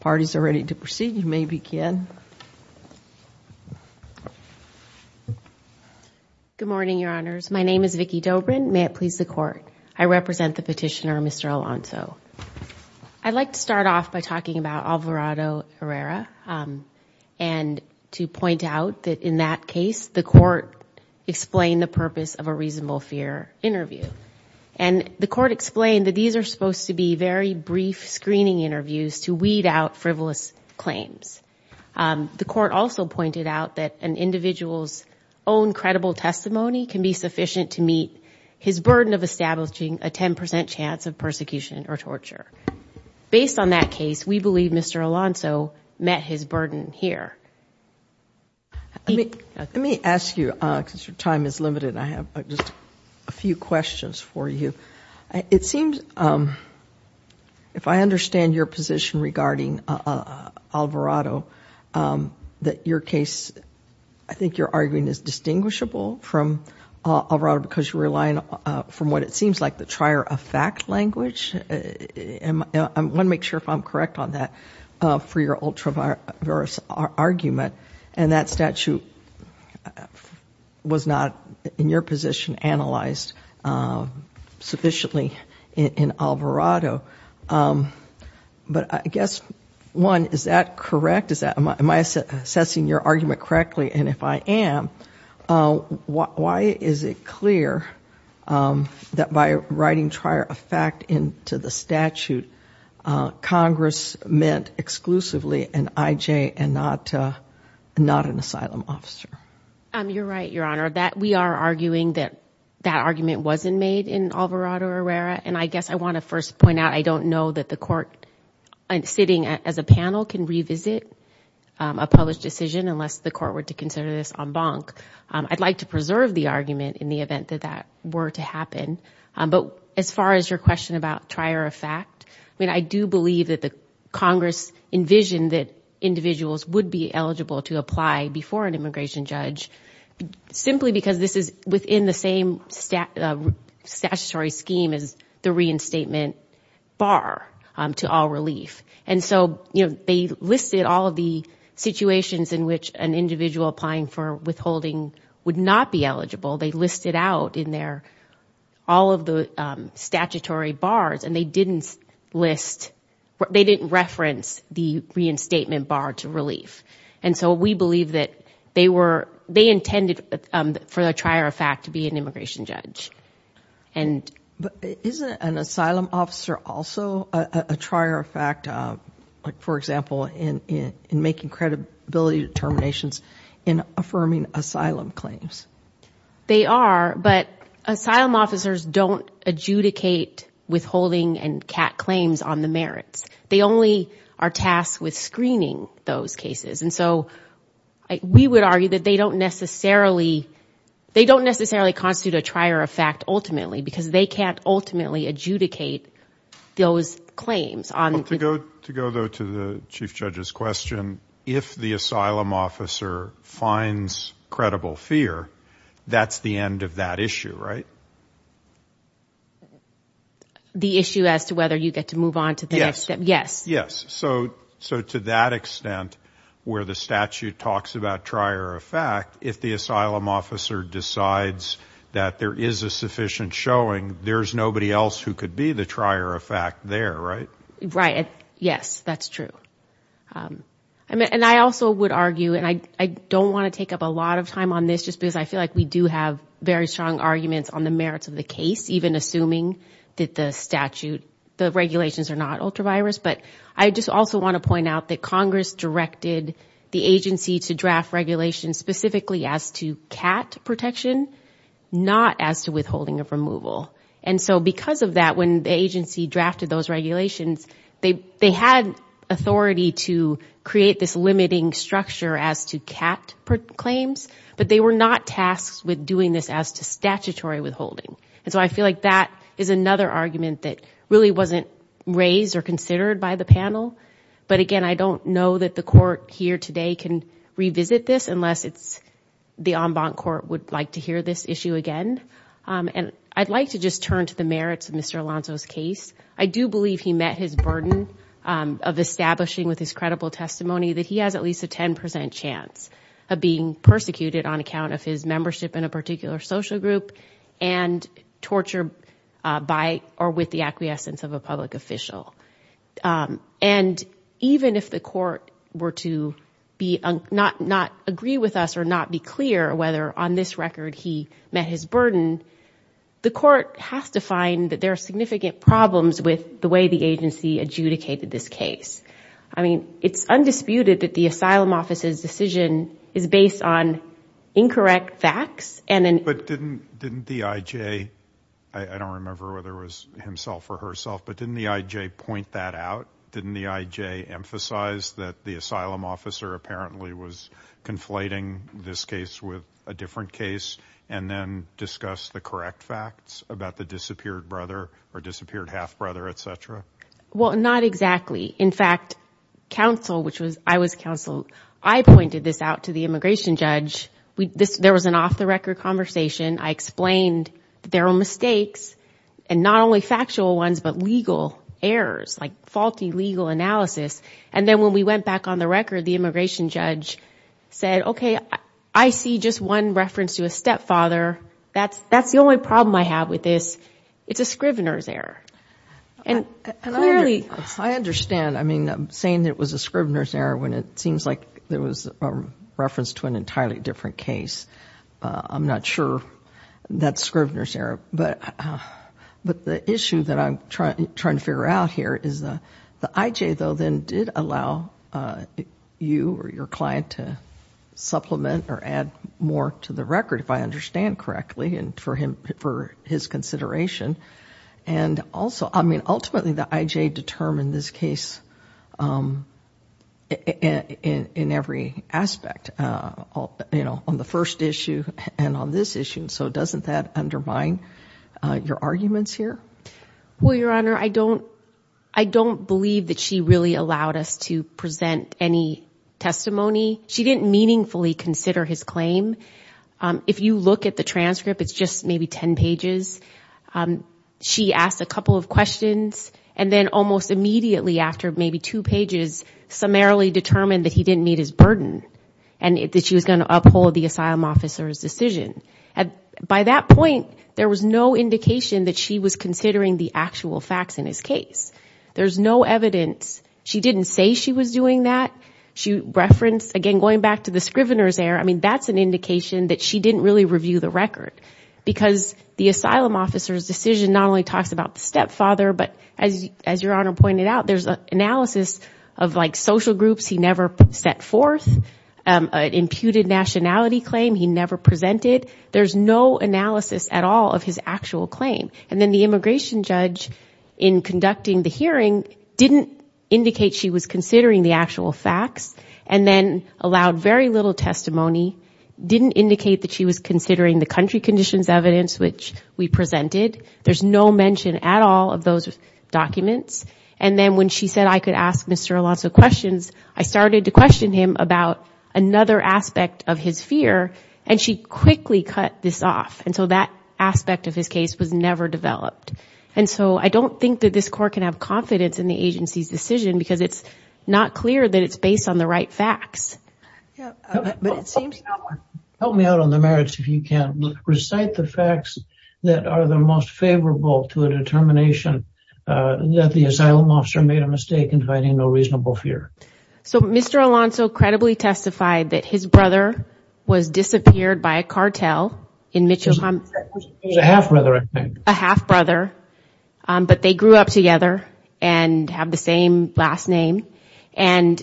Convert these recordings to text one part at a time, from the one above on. Parties are ready to proceed. You may begin. Good morning, your honors. My name is Vicki Dobrin. May it please the court. I represent the petitioner, Mr. Alonso. I'd like to start off by talking about Alvarado Herrera and to point out that in that case, the court explained the purpose of a reasonable fear interview and the court explained that these are supposed to be very brief screening interviews to weed out frivolous claims. The court also pointed out that an individual's own credible testimony can be sufficient to meet his burden of establishing a 10% chance of persecution or torture. Based on that case, we believe Mr. Alonso met his burden here. Let me ask you because your time is limited. I have just a few questions for you. It seems, if I understand your position regarding Alvarado, that your case, I think you're arguing is distinguishable from Alvarado because you're relying from what it seems like the trier of fact language. I want to make sure if I'm correct on that for your ultra-various argument and that statute was not in your position analyzed sufficiently in Alvarado. But I guess, one, is that correct? Am I assessing your argument correctly? And if I am, why is it clear that by writing trier of fact into the statute, Congress meant exclusively an IJ and not an asylum officer? You're right, Your Honor, that we are arguing that that argument wasn't made in Alvarado Herrera. And I guess I want to first point out, I don't know that the court sitting as a panel can revisit a published decision unless the court were to consider this en banc. I'd like to preserve the argument in the event that that were to happen. But as far as your question about trier of fact, I mean, I do believe that the Congress envisioned that individuals would be eligible to apply before an immigration judge simply because this is within the same statutory scheme as the reinstatement bar to all relief. And so, you know, they listed all of the situations in which an individual applying for withholding would not be eligible. They listed out in there all of the statutory bars and they didn't list, they didn't reference the reinstatement bar to relief. And so we believe that they were, they intended for the trier of fact to be an immigration judge. And isn't an asylum officer also a trier of fact, like for example, in making credibility determinations in affirming asylum claims? They are, but asylum officers don't adjudicate withholding and cat claims on the merits. They only are tasked with screening those cases. And so we would argue that they don't necessarily, they don't necessarily constitute a trier of fact ultimately because they can't ultimately adjudicate those claims. To go though to the chief judge's question, if the asylum officer finds credible fear, that's the end of that issue, right? The issue as to whether you get to move on to the next Yes. Yes. So, so to that extent where the statute talks about trier of fact, if the asylum officer decides that there is a sufficient showing, there's nobody else who could be the trier of fact there, right? Right. Yes, that's true. I mean, and I also would argue, and I don't want to take up a lot of time on this just because I feel like we do have very strong arguments on the merits of the case, even assuming that the statute, the regulations are not ultra-virus, but I just also want to point out that Congress directed the agency to draft regulations specifically as to CAT protection, not as to withholding of removal. And so because of that, when the agency drafted those regulations, they had authority to create this limiting structure as to CAT claims, but they were not tasked with doing this as to statutory withholding. And so I feel like that is another argument that really wasn't raised or considered by the panel. But again, I don't know that the court here today can revisit this unless it's the en banc court would like to hear this issue again, and I'd like to just turn to the merits of Mr. Alonzo's case. I do believe he met his burden of establishing with his credible testimony that he has at least a 10% chance of being persecuted on account of his membership in a particular social group and torture by or with the acquiescence of a public official. And even if the court were to not agree with us or not be clear whether on this record he met his burden, the court has to find that there are significant problems with the way the agency adjudicated this case. I mean, it's undisputed that the asylum office's decision is based on incorrect facts. But didn't the IJ, I don't remember whether it was himself or herself, but didn't the IJ point that out? Didn't the IJ emphasize that the asylum officer apparently was conflating this case with a different case and then discuss the correct facts about the disappeared brother or disappeared half-brother, etc? Well, not exactly. In fact, counsel, which was, I was counsel, I pointed this out to the immigration judge. There was an off-the-record conversation. I explained there were mistakes and not only factual ones, but legal errors, like faulty legal analysis. And then when we went back on the record, the immigration judge said, okay, I see just one reference to a stepfather. That's the only problem I have with this. It's a Scrivener's error. And clearly... I understand. I mean, I'm saying it was a Scrivener's error when it seems like there was a reference to an entirely different case. I'm not sure that's Scrivener's error, but the issue that I'm trying to figure out here is the IJ, though, then did allow you or your client to supplement or add more to the record, if I understand correctly, and for his consideration. And also, I mean, ultimately the IJ determined this case in every aspect, you know, on the first issue and on this issue. So doesn't that undermine your arguments here? Well, Your Honor, I don't believe that she really allowed us to present any testimony. She didn't meaningfully consider his claim. If you look at the transcript, it's just maybe 10 pages. She asked a couple of questions and then almost immediately after, maybe two pages, summarily determined that he didn't meet his burden and that she was going to uphold the asylum officer's decision. By that point, there was no indication that she was considering the actual facts in his case. There's no evidence. She didn't say she was doing that. She referenced, again, going back to the Scrivener's error. I mean, that's an indication that she didn't really review the record because the asylum officer's decision not only talks about the stepfather. But as Your Honor pointed out, there's an analysis of like social groups he never set forth, an imputed nationality claim he never presented. There's no analysis at all of his actual claim. And then the immigration judge, in conducting the hearing, didn't indicate she was considering the actual facts and then allowed very little testimony, didn't indicate that she was considering the country conditions evidence, which we presented. There's no mention at all of those documents. And then when she said I could ask Mr. Alonso questions, I started to question him about another aspect of his fear and she quickly cut this off. And so that aspect of his case was never developed. And so I don't think that this court can have confidence in the agency's decision because it's not clear that it's based on the right facts. Yeah, but it seems to help me out on the merits. If you can recite the facts that are the most favorable to a determination that the asylum officer made a mistake in finding no reasonable fear. So Mr. Alonso credibly testified that his brother was disappeared by a cartel in Mitchell. It was a half brother, I think. A half brother, but they grew up together and have the same last name. And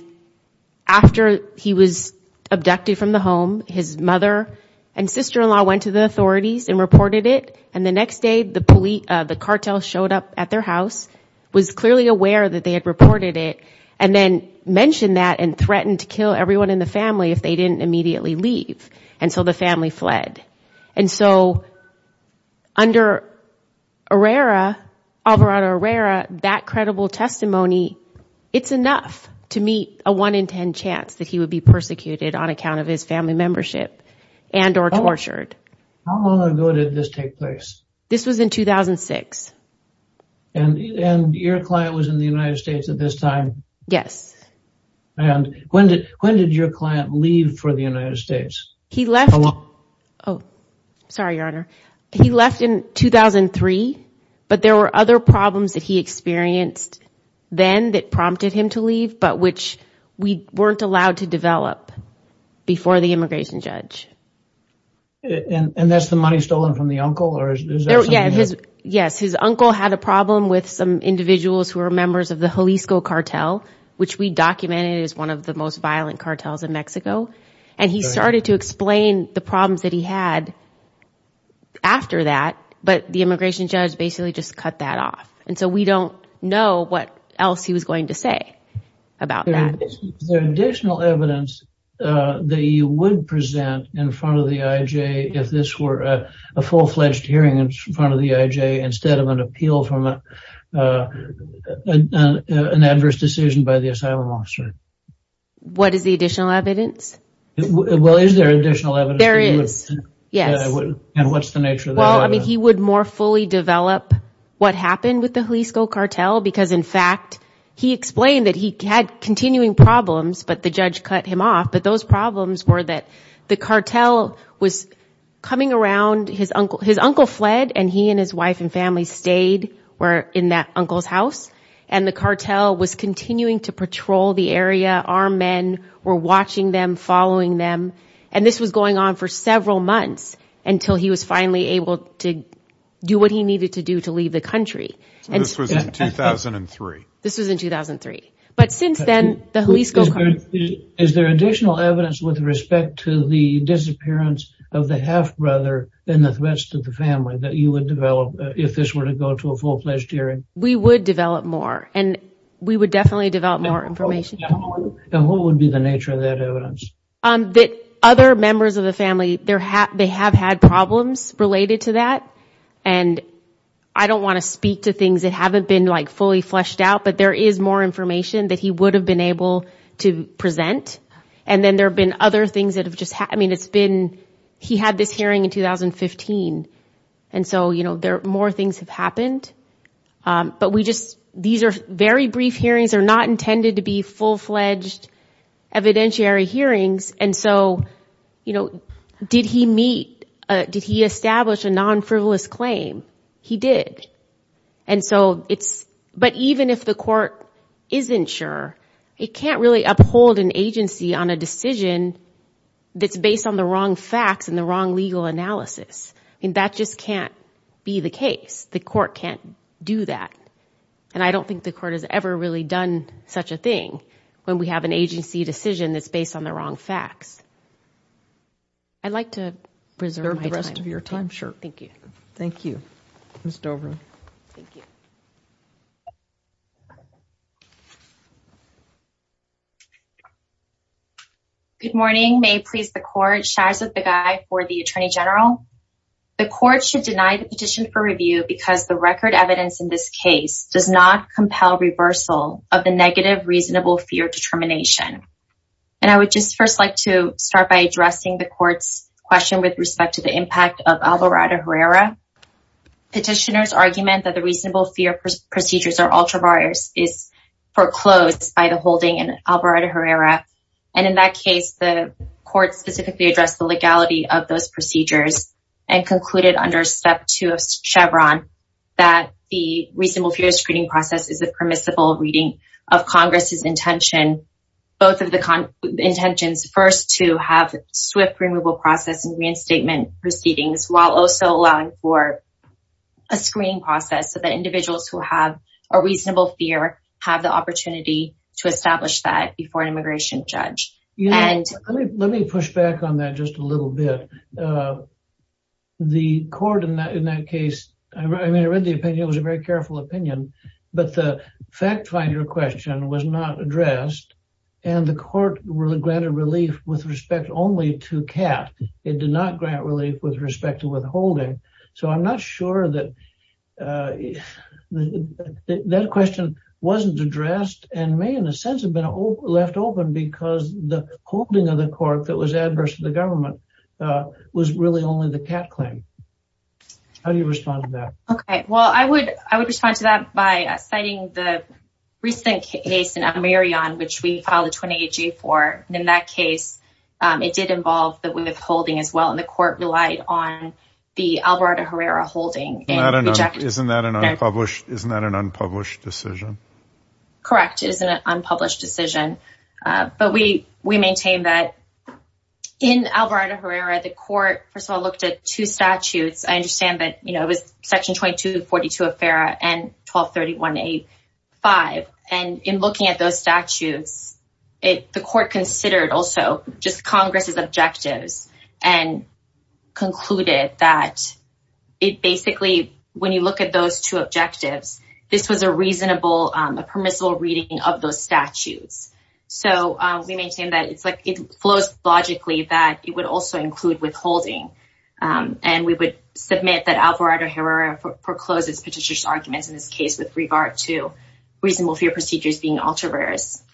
after he was abducted from the home, his mother and sister-in-law went to the authorities and reported it. And the next day the police, the cartel showed up at their house, was clearly aware that they had reported it, and then mentioned that and threatened to kill everyone in the family if they didn't immediately leave. And so the family fled. And so under Alvarado Herrera, that credible testimony, it's enough to meet a 1 in 10 chance that he would be persecuted on account of his family membership and or tortured. How long ago did this take place? This was in 2006. And your client was in the United States at this time? Yes. And when did your client leave for the United States? He left, oh, sorry, Your Honor. He left in 2003, but there were other problems that he had that prompted him to leave, but which we weren't allowed to develop before the immigration judge. And that's the money stolen from the uncle or is there something else? Yes, his uncle had a problem with some individuals who were members of the Jalisco cartel, which we documented as one of the most violent cartels in Mexico. And he started to explain the problems that he had after that, but the immigration judge basically just cut that off. And so we don't know what else he was going to say about that. Is there additional evidence that you would present in front of the IJ if this were a full-fledged hearing in front of the IJ instead of an appeal from an adverse decision by the asylum officer? What is the additional evidence? Well, is there additional evidence? There is. Yes. And what's the nature of that? I mean, he would more fully develop what happened with the Jalisco cartel because, in fact, he explained that he had continuing problems, but the judge cut him off. But those problems were that the cartel was coming around his uncle. His uncle fled and he and his wife and family stayed were in that uncle's house and the cartel was continuing to patrol the area. Our men were watching them, following them. And this was going on for several months until he was finally able to do what he needed to do to leave the country. And this was in 2003. This was in 2003. But since then, the Jalisco cartel... Is there additional evidence with respect to the disappearance of the half-brother and the threats to the family that you would develop if this were to go to a full-fledged hearing? We would develop more and we would definitely develop more information. And what would be the nature of that evidence? That other members of the family, they have had problems related to that. And I don't want to speak to things that haven't been like fully fleshed out, but there is more information that he would have been able to present. And then there have been other things that have just happened. I mean, it's been... He had this hearing in 2015. And so, you know, there are more things have happened, but we just... These are very brief hearings. They're not intended to be full-fledged evidentiary hearings. And so, you know, did he meet, did he establish a non-frivolous claim? He did. And so it's... But even if the court isn't sure, it can't really uphold an agency on a decision that's based on the wrong facts and the wrong legal analysis. And that just can't be the case. The court can't do that. And I don't think the court has ever really done such a thing when we have an agency decision that's based on the wrong facts. I'd like to preserve the rest of your time. Sure. Thank you. Thank you. Ms. Dover. Thank you. Good morning. May it please the court. Sharzad Begay for the Attorney General. The court should deny the petition for review because the record evidence in this case does not compel reversal of the negative reasonable fear determination. And I would just first like to start by addressing the court's question with respect to the impact of Alvarado Herrera. Petitioners argument that the reasonable fear procedures or ultraviolence is foreclosed by the holding in Alvarado Herrera. And in that case, the court specifically addressed the legality of those procedures and concluded under step two of Chevron that the reasonable fear screening process is a permissible reading of Congress's intention, both of the intentions first to have swift removal process and reinstatement proceedings while also allowing for a screening process so that individuals who have a reasonable fear have the opportunity to establish that before an immigration judge. Let me push back on that just a little bit. The court in that case, I mean, I read the opinion, it was your question was not addressed and the court really granted relief with respect only to Kat. It did not grant relief with respect to withholding. So I'm not sure that that question wasn't addressed and may in a sense have been left open because the holding of the court that was adverse to the government was really only the Kat claim. How do you respond to that? Okay. Well, I would respond to that by citing the recent case in Amerion, which we filed a 28-G for. In that case, it did involve the withholding as well and the court relied on the Alvarado Herrera holding. Isn't that an unpublished decision? Correct. It is an unpublished decision, but we maintain that in Alvarado Herrera, the court, first of all, looked at two statutes. I understand that, you know, it was section 2242 of FERA and 1231A5 and in looking at those statutes, the court considered also just Congress's objectives and concluded that it basically when you look at those two objectives, this was a reasonable, a permissible reading of those statutes. So we maintain that it's like it flows logically that it would also include withholding and we would submit that Alvarado Herrera forecloses petitioner's arguments in this case with regard to reasonable fear procedures being altruistic.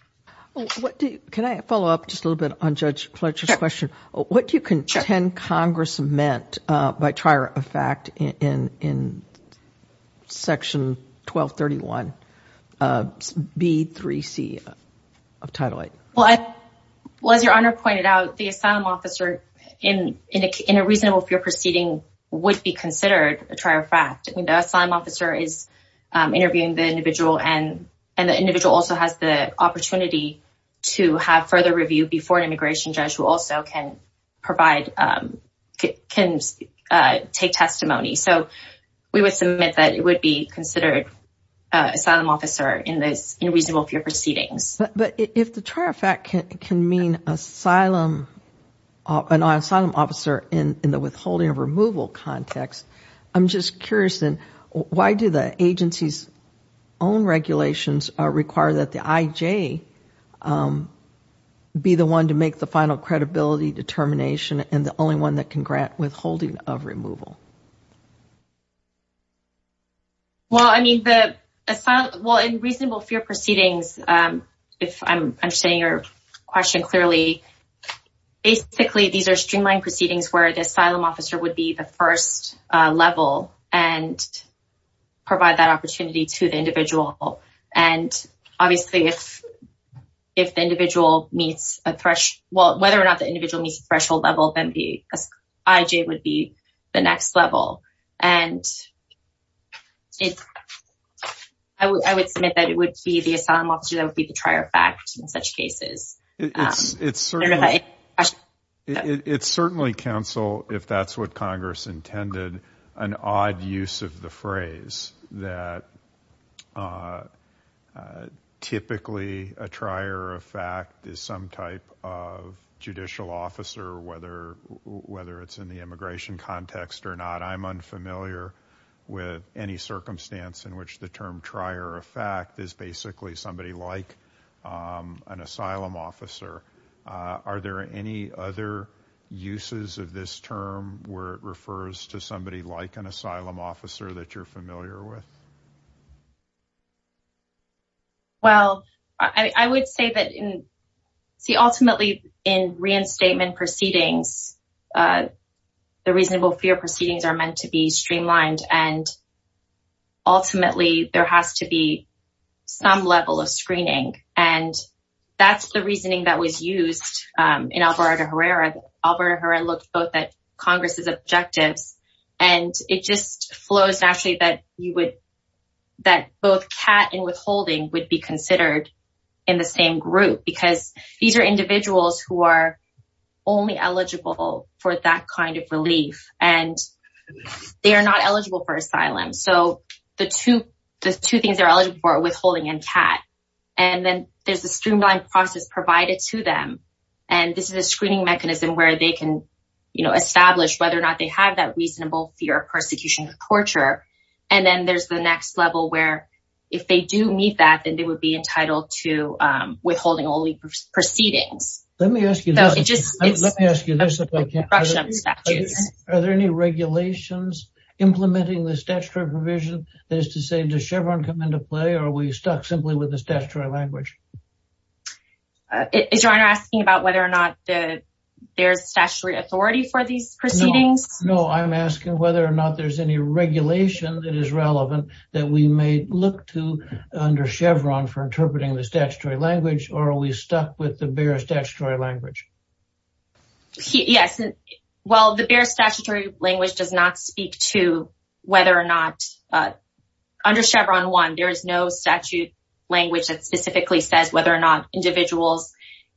Can I follow up just a little bit on Judge Pletka's question? What do you contend Congress meant by trier of fact in section 1231B3C of Title VIII? Well, as your Honor pointed out, the asylum officer in a reasonable fear proceeding would be considered a trier of fact. I mean, the asylum officer is interviewing the individual and the individual also has the opportunity to have further review before an immigration judge who also can take testimony. So we would submit that it would be considered asylum officer in reasonable fear proceedings. But if the trier of fact can mean an asylum officer in the withholding of removal context, I'm just curious then why do the agency's own regulations require that the IJ be the one to make the final credibility determination and the only one that can grant withholding of removal? Well, I mean, in reasonable fear proceedings, if I'm understanding your question clearly, basically, these are streamlined proceedings where the asylum officer would be the first level and provide that opportunity to the individual. And obviously, if the individual meets a threshold, well, whether or not the individual meets a threshold level, then the IJ would be the next level. And I would submit that it would be the asylum officer that would be the trier of fact in such cases. It's certainly, counsel, if that's what Congress intended, an odd use of the phrase that typically a trier of fact is some type of judicial officer, whether it's in the immigration context or not. I'm unfamiliar with any circumstance in which the term trier of fact is basically somebody like an asylum officer. Are there any other uses of this term where it refers to somebody like an asylum officer that you're familiar with? Well, I would say that, see, ultimately in reinstatement proceedings, the reasonable fear proceedings are meant to be streamlined and ultimately, there has to be some level of screening and that's the reasoning that was used in Alvarado-Herrera. Alvarado-Herrera looked both at Congress's objectives and it just flows naturally that both CAT and withholding would be considered in the same group because these are individuals who are only eligible for that kind of relief and they are not eligible for asylum. So the two things they're eligible for are withholding and CAT. And then there's a streamlined process provided to them and this is a screening mechanism where they can establish whether or not they have that reasonable fear of persecution or torture. And then there's the next level where if they do meet that, then they would be entitled to withholding only proceedings. Let me ask you this. Are there any regulations implementing the statutory provision that is to say does Chevron come into play or are we stuck simply with the statutory language? Is your honor asking about whether or not there's statutory authority for these proceedings? No, I'm asking whether or not there's any regulation that is relevant that we may look to under Chevron for interpreting the statutory language or are we stuck with the bare statutory language? Yes. Well, the bare statutory language does not speak to whether or not under Chevron 1, there is no statute language that specifically says whether or not individuals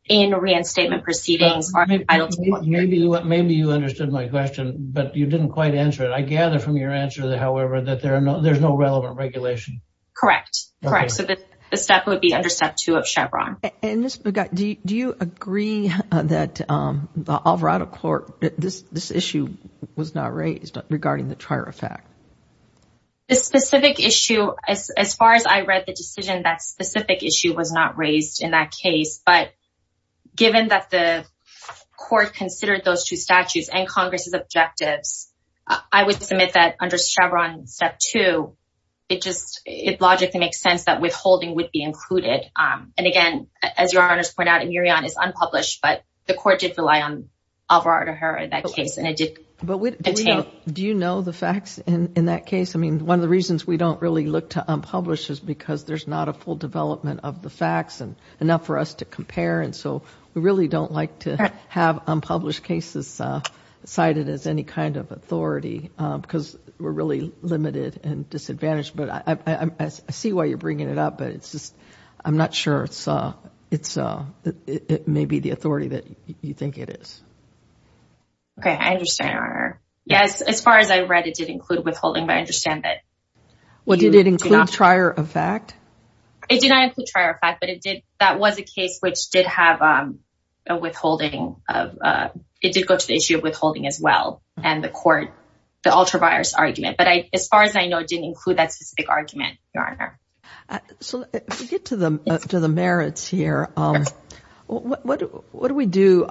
in reinstatement proceedings are entitled to... Maybe you understood my question, but you didn't quite answer it. I gather from your answer, however, that there's no relevant regulation. Correct. Correct. So the step would be under step 2 of Chevron. And Ms. Begat, do you agree that the Alvarado court, this issue was not raised regarding the TRIRAFACT? This specific issue, as far as I read the decision, that specific issue was not raised in that case. But given that the court considered those two statutes and Congress's objectives, I would submit that under Chevron step 2, it just, it logically makes sense that withholding would be included. And again, as your honors point out, it is unpublished, but the court did rely on Alvarado in that case and it did. But do you know the facts in that case? I mean, one of the reasons we don't really look to unpublish is because there's not a full development of the facts and enough for us to compare. And so we really don't like to have unpublished cases cited as any kind of authority because we're really limited and disadvantaged. But I see why you're bringing it up, but it's just, I'm not sure it's, it may be the authority that you think it is. Okay, I understand your honor. Yes, as far as I read, it did include withholding, but I understand that. Well, did it include TRIRAFACT? It did not include TRIRAFACT, but it did, that was a case which did have a withholding of, it did go to the issue of withholding as well and the court, the ultravirus argument, but as far as I know, it didn't include that specific argument, your honor. So to get to the merits here, what do we do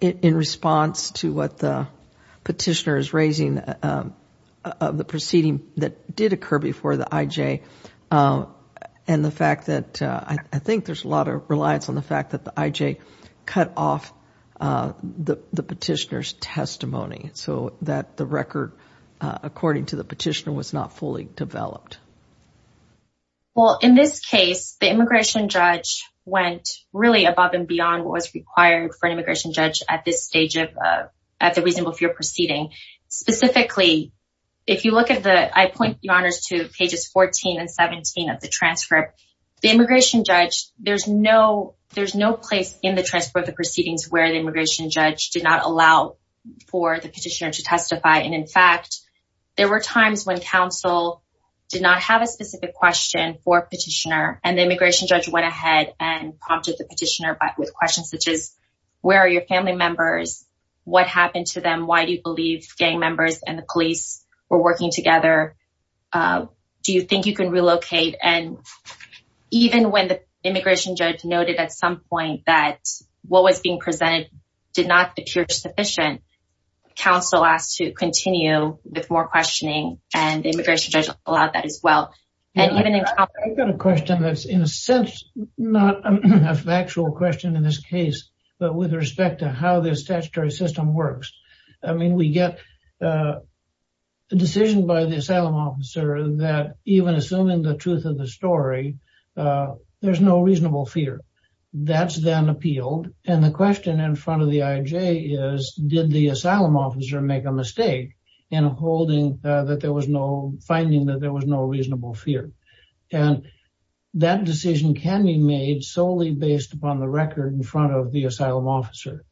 in response to what the petitioner is raising of the proceeding that did occur before the IJ and the fact that I think there's a lot of reliance on the fact that the IJ cut off the petitioner's testimony so that the record, according to the petitioner, was not fully developed. Well, in this case, the immigration judge went really above and beyond what was required for an immigration judge at this stage of, at the reason of your proceeding. Specifically, if you look at the, I point your honors to pages 14 and 17 of the transcript, the immigration judge, there's no, there's no place in the transport of the proceedings where the immigration judge did not allow for the petitioner to testify. And in fact, there were times when counsel did not have a specific question for petitioner and the immigration judge went ahead and prompted the petitioner with questions such as where are your family members? What happened to them? Why do you believe gang members and the police were working together? Do you think you can relocate? And even when the immigration judge noted at some point that what was being presented did not appear sufficient, counsel asked to continue with more questioning and the immigration judge allowed that as well. I've got a question that's in a sense, not a factual question in this case, but with respect to how the statutory system works. I mean, we get a decision by the asylum officer that even assuming the truth of the story, there's no reasonable fear. That's then appealed. And the question in front of the IJ is did the asylum officer make a mistake in holding that there was no, finding that there was no reasonable fear. And that decision can be made solely based upon the record in front of the asylum officer.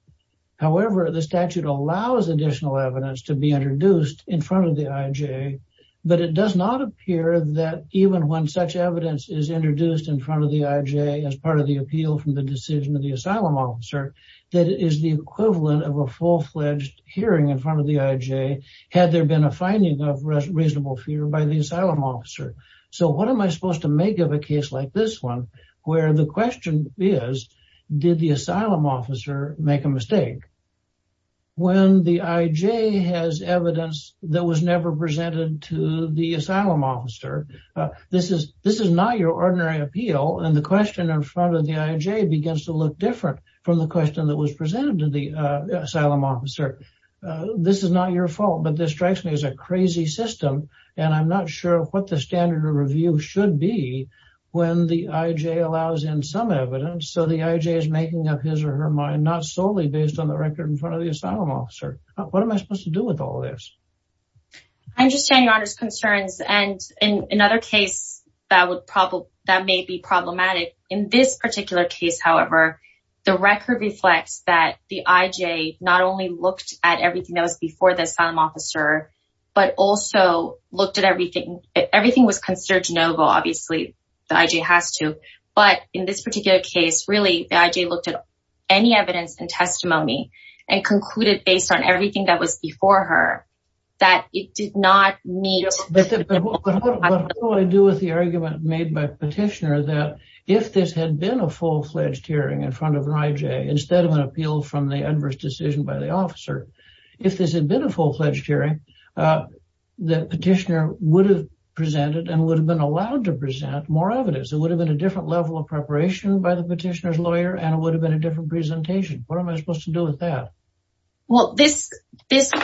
However, the statute allows additional evidence to be introduced in front of the IJ, but it does not appear that even when such evidence is introduced in front of the IJ as part of the appeal from the decision of the asylum officer, that is the equivalent of a full-fledged hearing in front of the IJ had there been a finding of reasonable fear by the asylum officer. So what am I supposed to make of a case like this one where the asylum officer make a mistake? When the IJ has evidence that was never presented to the asylum officer, this is not your ordinary appeal. And the question in front of the IJ begins to look different from the question that was presented to the asylum officer. This is not your fault, but this strikes me as a crazy system, and I'm not sure what the standard of review should be when the IJ allows in some evidence so the IJ is making up his or her mind not solely based on the record in front of the asylum officer. What am I supposed to do with all this? I understand your Honor's concerns, and in another case that may be problematic, in this particular case, however, the record reflects that the IJ not only looked at everything that was before the asylum officer, but also looked at everything. Everything was considered no-go. Obviously, the IJ has to. But in this particular case, really, the IJ looked at any evidence and testimony and concluded based on everything that was before her that it did not need... But what do I do with the argument made by Petitioner that if this had been a full-fledged hearing in front of an IJ instead of an appeal from the adverse decision by the officer, if this had been a full-fledged hearing, the Petitioner would have presented and would have been allowed to present more evidence. It would have been a different level of preparation by the Petitioner's lawyer, and it would have been a different presentation. What am I supposed to do with that? Well, this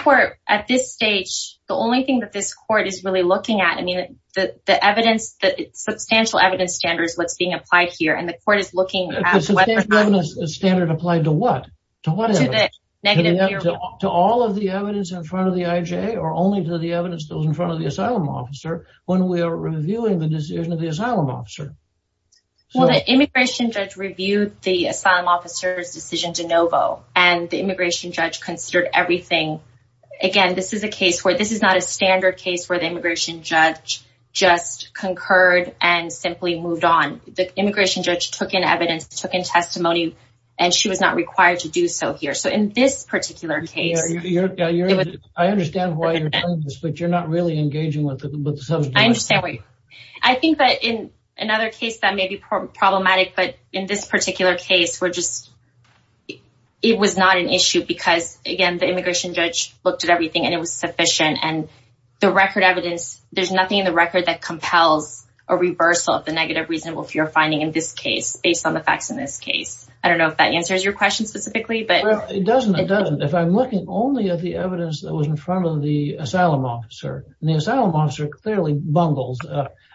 Court, at this stage, the only thing that this Court is really looking at, I mean, the evidence, the substantial evidence standard is what's being applied here, and the Court is looking at whether or not... The substantial evidence standard applied to what? To what evidence? To all of the evidence in front of the IJ or only to the evidence that was in front of the asylum officer when we were reviewing the decision of the asylum officer. Well, the immigration judge reviewed the asylum officer's decision de novo, and the immigration judge considered everything. Again, this is a case where this is not a standard case where the immigration judge just concurred and simply moved on. The immigration judge took in evidence, took in testimony, and she was not required to do so here. So in this particular case... I understand why you're doing this, but you're not really engaging with the substance. I understand. I think that in another case that may be problematic, but in this particular case, it was not an issue because, again, the immigration judge looked at everything and it was sufficient and the record evidence, there's nothing in the record that compels a reversal of the negative reasonable fear finding in this case based on the facts in this case. I don't know if that answers your question specifically, but... It doesn't, it doesn't. If I'm looking only at the evidence that was in front of the asylum officer, and the asylum officer clearly bungles,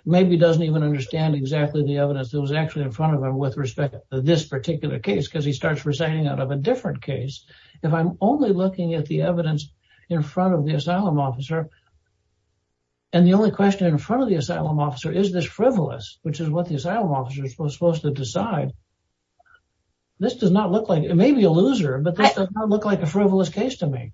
maybe doesn't even understand exactly the evidence that was actually in front of him with respect to this particular case because he starts reciting out of a different case. If I'm only looking at the evidence in front of the asylum officer, and the only question in front of the asylum officer is this frivolous, which is what the asylum officer is supposed to decide, this does not look like... It may be a loser, but this does not look like a frivolous case to me.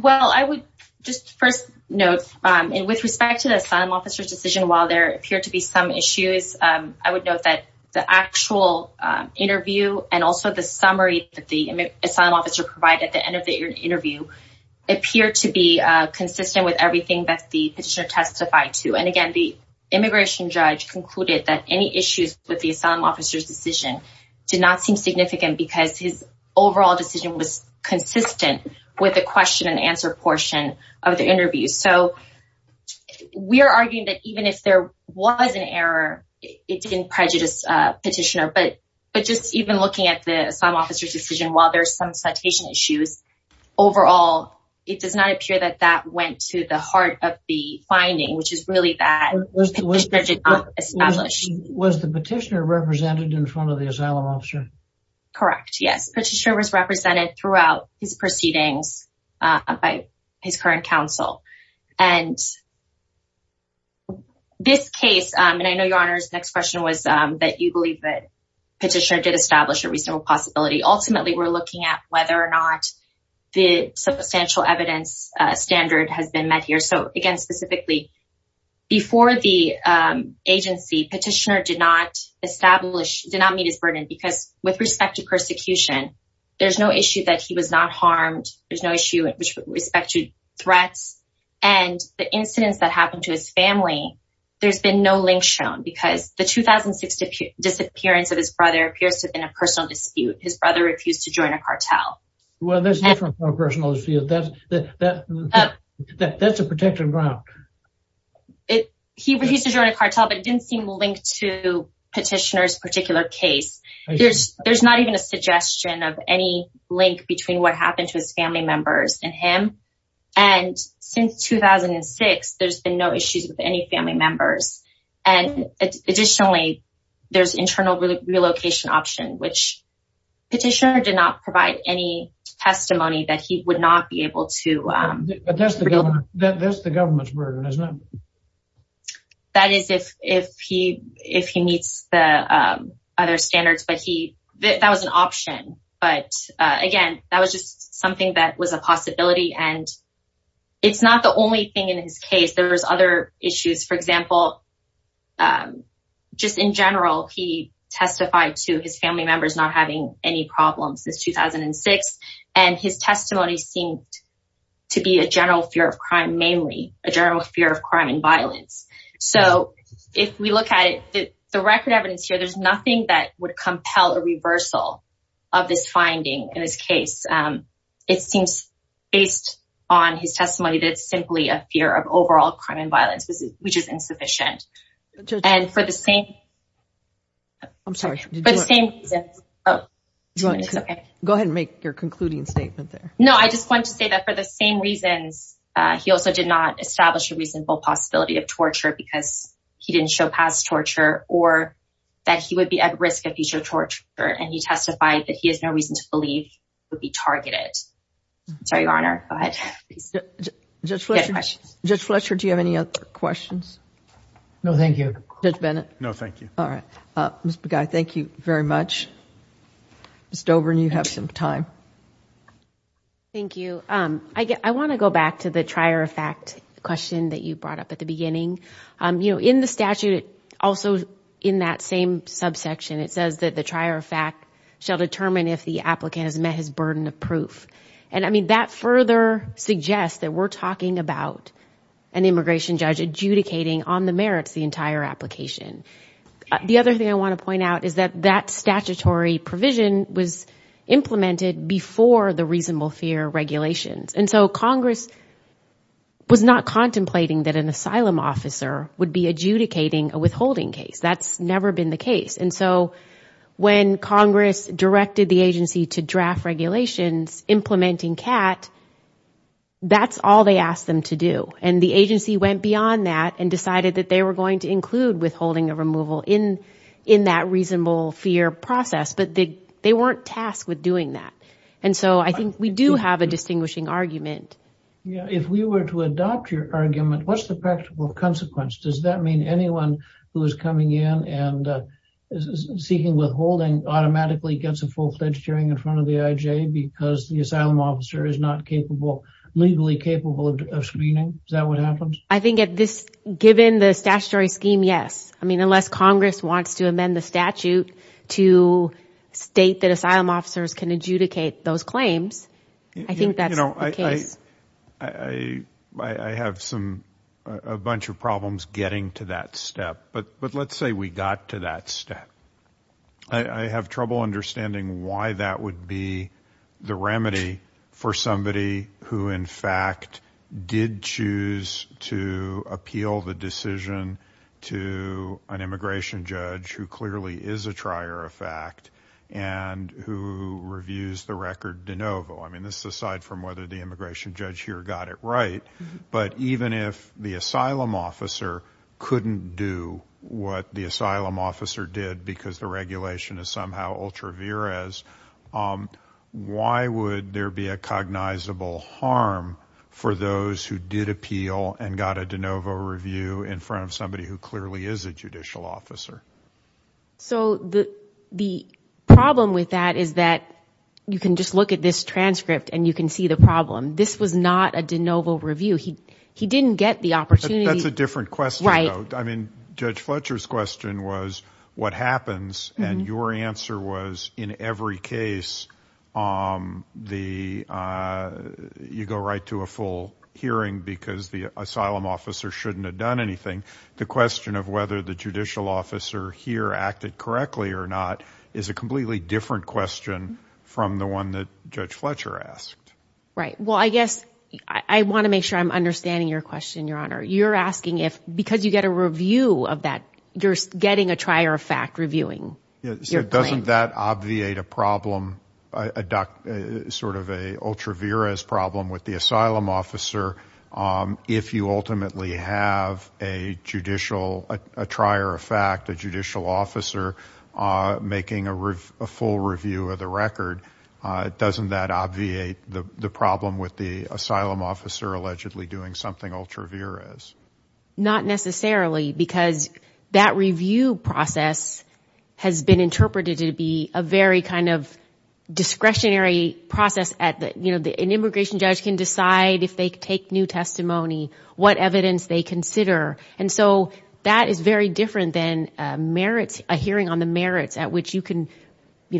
Well, I would just first note, and with respect to the asylum officer's decision, while there appear to be some issues, I would note that the actual interview and also the summary that the asylum officer provided at the end of the interview appeared to be consistent with everything that the petitioner testified to. And again, the immigration judge concluded that any issues with the asylum officer's decision did not seem significant because his overall decision was consistent with the question and answer portion of the interview. So we're arguing that even if there was an error, it didn't prejudice the petitioner. But just even looking at the asylum officer's decision, while there's some citation issues, overall, it does not appear that that went to the heart of the finding, which is really that the petitioner did not establish. Was the petitioner represented in front of the asylum officer? Correct. Yes, the petitioner was represented throughout his proceedings. By his current counsel. And this case, and I know your Honor's next question was that you believe that petitioner did establish a reasonable possibility. Ultimately, we're looking at whether or not the substantial evidence standard has been met here. So again, specifically, before the agency, petitioner did not establish, did not meet his burden because with respect to persecution, there's no issue that he was not harmed. There's no issue with respect to threats and the incidents that happened to his family. There's been no link shown because the 2006 disappearance of his brother appears to have been a personal dispute. His brother refused to join a cartel. Well, there's no personal dispute, that's a protected ground. He refused to join a cartel, but it didn't seem linked to petitioner's particular case. There's not even a suggestion of any link between what happened to his family members and him. And since 2006, there's been no issues with any family members. And additionally, there's internal relocation option, which petitioner did not provide any testimony that he would not be able to. But that's the government's burden, isn't it? That is if he meets the other standards, but that was an option. But again, that was just something that was a possibility and it's not the only thing in his case. There was other issues. For example, just in general, he testified to his family members not having any problems since 2006 and his testimony seemed to be a general fear of crime, mainly a general fear of crime and violence. So if we look at it, the record evidence here, there's nothing that would compel a reversal of this finding in his case. It seems based on his testimony that it's simply a fear of overall crime and violence, which is insufficient. And for the same... I'm sorry. Go ahead and make your concluding statement there. No, I just want to say that for the same reasons, he also did not establish a reasonable possibility of torture because he didn't show past torture or that he would be at risk of future torture, and he testified that he has no reason to believe he would be targeted. Sorry, Your Honor. Go ahead. Judge Fletcher, do you have any other questions? No, thank you. Judge Bennett? No, thank you. All right. Mr. Begay, thank you very much. Ms. Dober, you have some time. Thank you. I want to go back to the trier of fact question that you brought up at the beginning. You know, in the statute, also in that same subsection, it says that the trier of fact shall determine if the applicant has met his burden of proof. And I mean, that further suggests that we're talking about an immigration judge adjudicating on the merits the entire application. The other thing I want to point out is that that statutory provision was implemented before the reasonable fear regulations. And so Congress was not contemplating that an asylum officer would be adjudicating a withholding case. That's never been the case. And so when Congress directed the agency to draft regulations implementing CAT, that's all they asked them to do. And the agency went beyond that and decided that they were going to include withholding a removal in that reasonable fear process, but they weren't tasked with doing that. And so I think we do have a distinguishing argument. Yeah, if we were to adopt your argument, what's the practical consequence? Does that mean anyone who is coming in and seeking withholding automatically gets a full-fledged hearing in front of the IJ because the asylum officer is not capable, legally capable of screening? Is that what happens? I think at this, given the statutory scheme, yes. I mean, unless Congress wants to amend the statute to state that asylum officers can adjudicate those claims. I think that's the case. I have a bunch of problems getting to that step, but let's say we got to that step. I have trouble understanding why that would be the remedy for somebody who in fact did choose to appeal the decision to an immigration judge who clearly is a trier of fact and who reviews the record de novo. I mean, this is aside from whether the immigration judge here got it right, but even if the asylum officer couldn't do what the asylum officer did because the regulation is somehow ultra vires, why would there be a cognizable harm for those who did appeal and got a de novo review in front of somebody who clearly is a judicial officer? So the problem with that is that you can just look at this transcript and you can see the problem. This was not a de novo review. He didn't get the opportunity. That's a different question though. I mean, Judge Fletcher's question was what happens and your answer was in every case, you go right to a full hearing because the asylum officer shouldn't have done anything. The question of whether the judicial officer here acted correctly or not is a completely different question from the one that Judge Fletcher asked. Right. Well, I guess I want to make sure I'm understanding your question, Your Honor. You're asking if because you get a review of that, you're getting a trier of fact reviewing. Doesn't that obviate a problem, sort of a ultra vires problem with the asylum officer? If you ultimately have a judicial, a trier of fact, a judicial officer making a full review of the record, doesn't that obviate the problem with the asylum officer allegedly doing something ultra vires? Not necessarily because that review process has been interpreted to be a very kind of discretionary process at the, you can decide if they take new testimony, what evidence they consider. And so that is very different than a hearing on the merits at which you can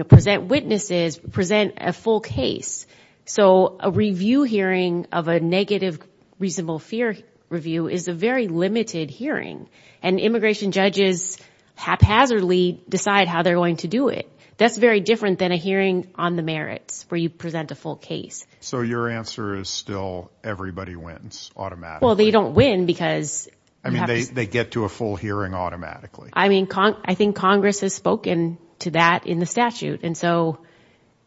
present witnesses, present a full case. So a review hearing of a negative reasonable fear review is a very limited hearing and immigration judges haphazardly decide how they're going to do it. That's very different than a hearing on the merits where you present a full case. So your answer is still everybody wins automatically? Well, they don't win because... I mean, they get to a full hearing automatically. I mean, I think Congress has spoken to that in the statute. And so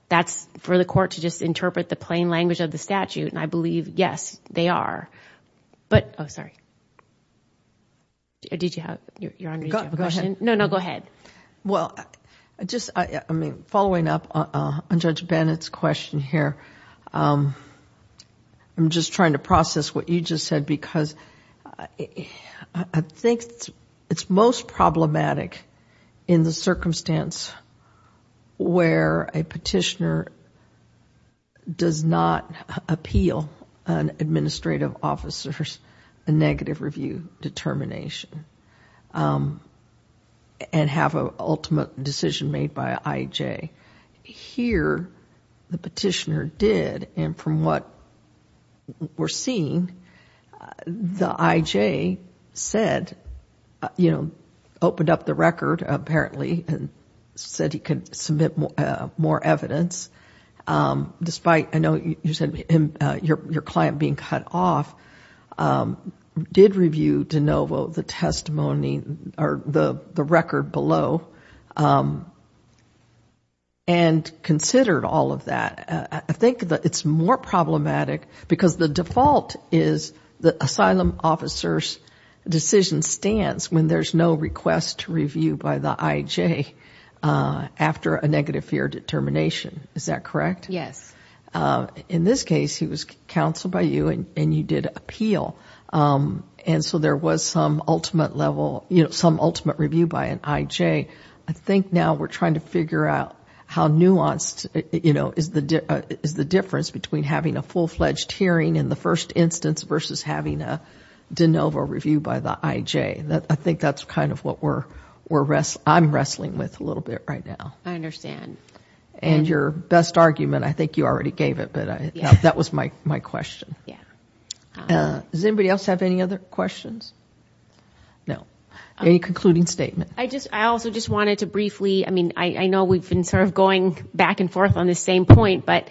that's for the court to just interpret the plain language of the statute. And I believe, yes, they are. But, oh, sorry. Did you have, Your Honor, did you have a question? No, no, go ahead. Well, just, I mean, following up on Judge Bennett's question here, I'm just trying to process what you just said because I think it's most problematic in the circumstance where a petitioner does not appeal an administrative officer's negative review determination and have an ultimate decision made by IJ. Here, the petitioner did and from what we're seeing, the IJ said, you know, opened up the record apparently and said he could submit more evidence. Despite, I know you said your client being cut off, did review de novo the testimony or the record below. And considered all of that, I think that it's more problematic because the default is the asylum officer's decision stance when there's no request to review by the IJ after a negative fear determination. Is that correct? Yes. In this case, he was counseled by you and you did appeal. And so there was some ultimate level, you know, some ultimate review by an IJ. I think now we're trying to figure out how nuanced, you know, is the difference between having a full-fledged hearing in the first instance versus having a de novo review by the IJ. I think that's kind of what I'm wrestling with a little bit right now. I understand. And your best argument, I think you already gave it, but that was my question. Yeah. Does anybody else have any other questions? No. Any concluding statement? I just, I also just wanted to briefly, I mean, I know we've been sort of going back and forth on the same point, but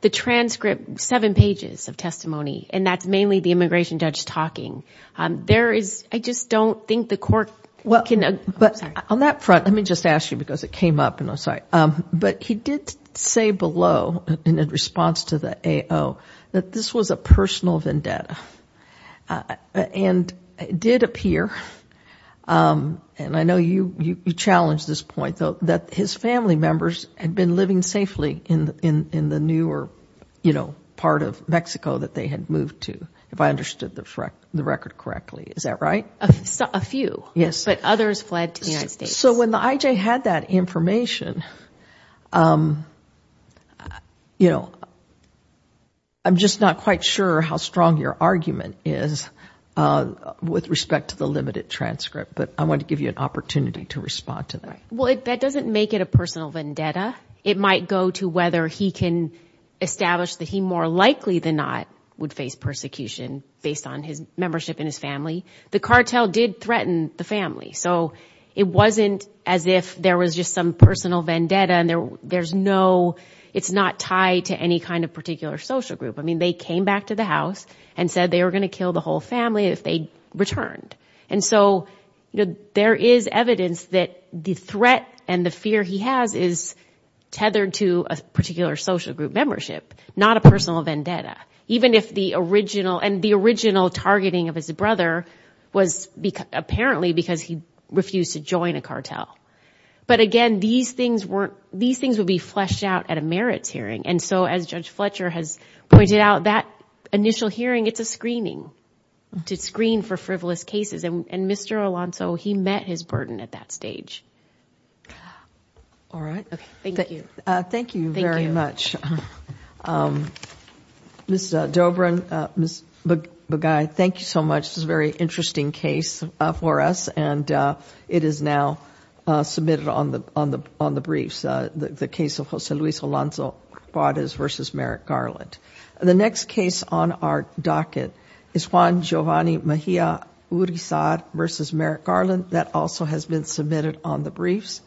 the transcript, seven pages of testimony, and that's mainly the immigration judge talking. There is, I just don't think the court can. But on that front, let me just ask you because it came up and I'm sorry, but he did say below in response to the AO that this was a personal vendetta and it did appear, and I know you challenged this point though, that his family members had been living safely in the newer, you know, part of Mexico that they had moved to, if I understood the record correctly. Is that right? A few. Yes. But others fled to the United States. So when the IJ had that information, you know, I'm just not quite sure how strong your argument is with respect to the limited transcript, but I want to give you an opportunity to respond to that. Well, that doesn't make it a personal vendetta. It might go to whether he can establish that he more likely than not would face persecution based on his membership in his family. The cartel did threaten the family. So it wasn't as if there was just some personal vendetta and there's no, it's not tied to any kind of particular social group. I mean, they came back to the house and said they were going to kill the whole family if they returned. And so, you know, there is evidence that the threat and the fear he has is tethered to a particular social group membership, not a personal vendetta, even if the original, and the original targeting of his brother was apparently because he refused to join a cartel. But again, these things were, these things would be fleshed out at a merits hearing. And so as Judge Fletcher has pointed out, that initial hearing, it's a screening, to screen for frivolous cases. And Mr. Alonso, he met his burden at that stage. All right. Thank you. Thank you very much. Ms. Dobryn, Ms. Bagay, thank you so much. This is a very interesting case for us and it is now submitted on the briefs, the case of Jose Luis Alonso Juarez versus Merrick Garland. The next case on our docket is Juan Giovanni Mejia Urizar versus Merrick Garland. That also has been submitted on the briefs.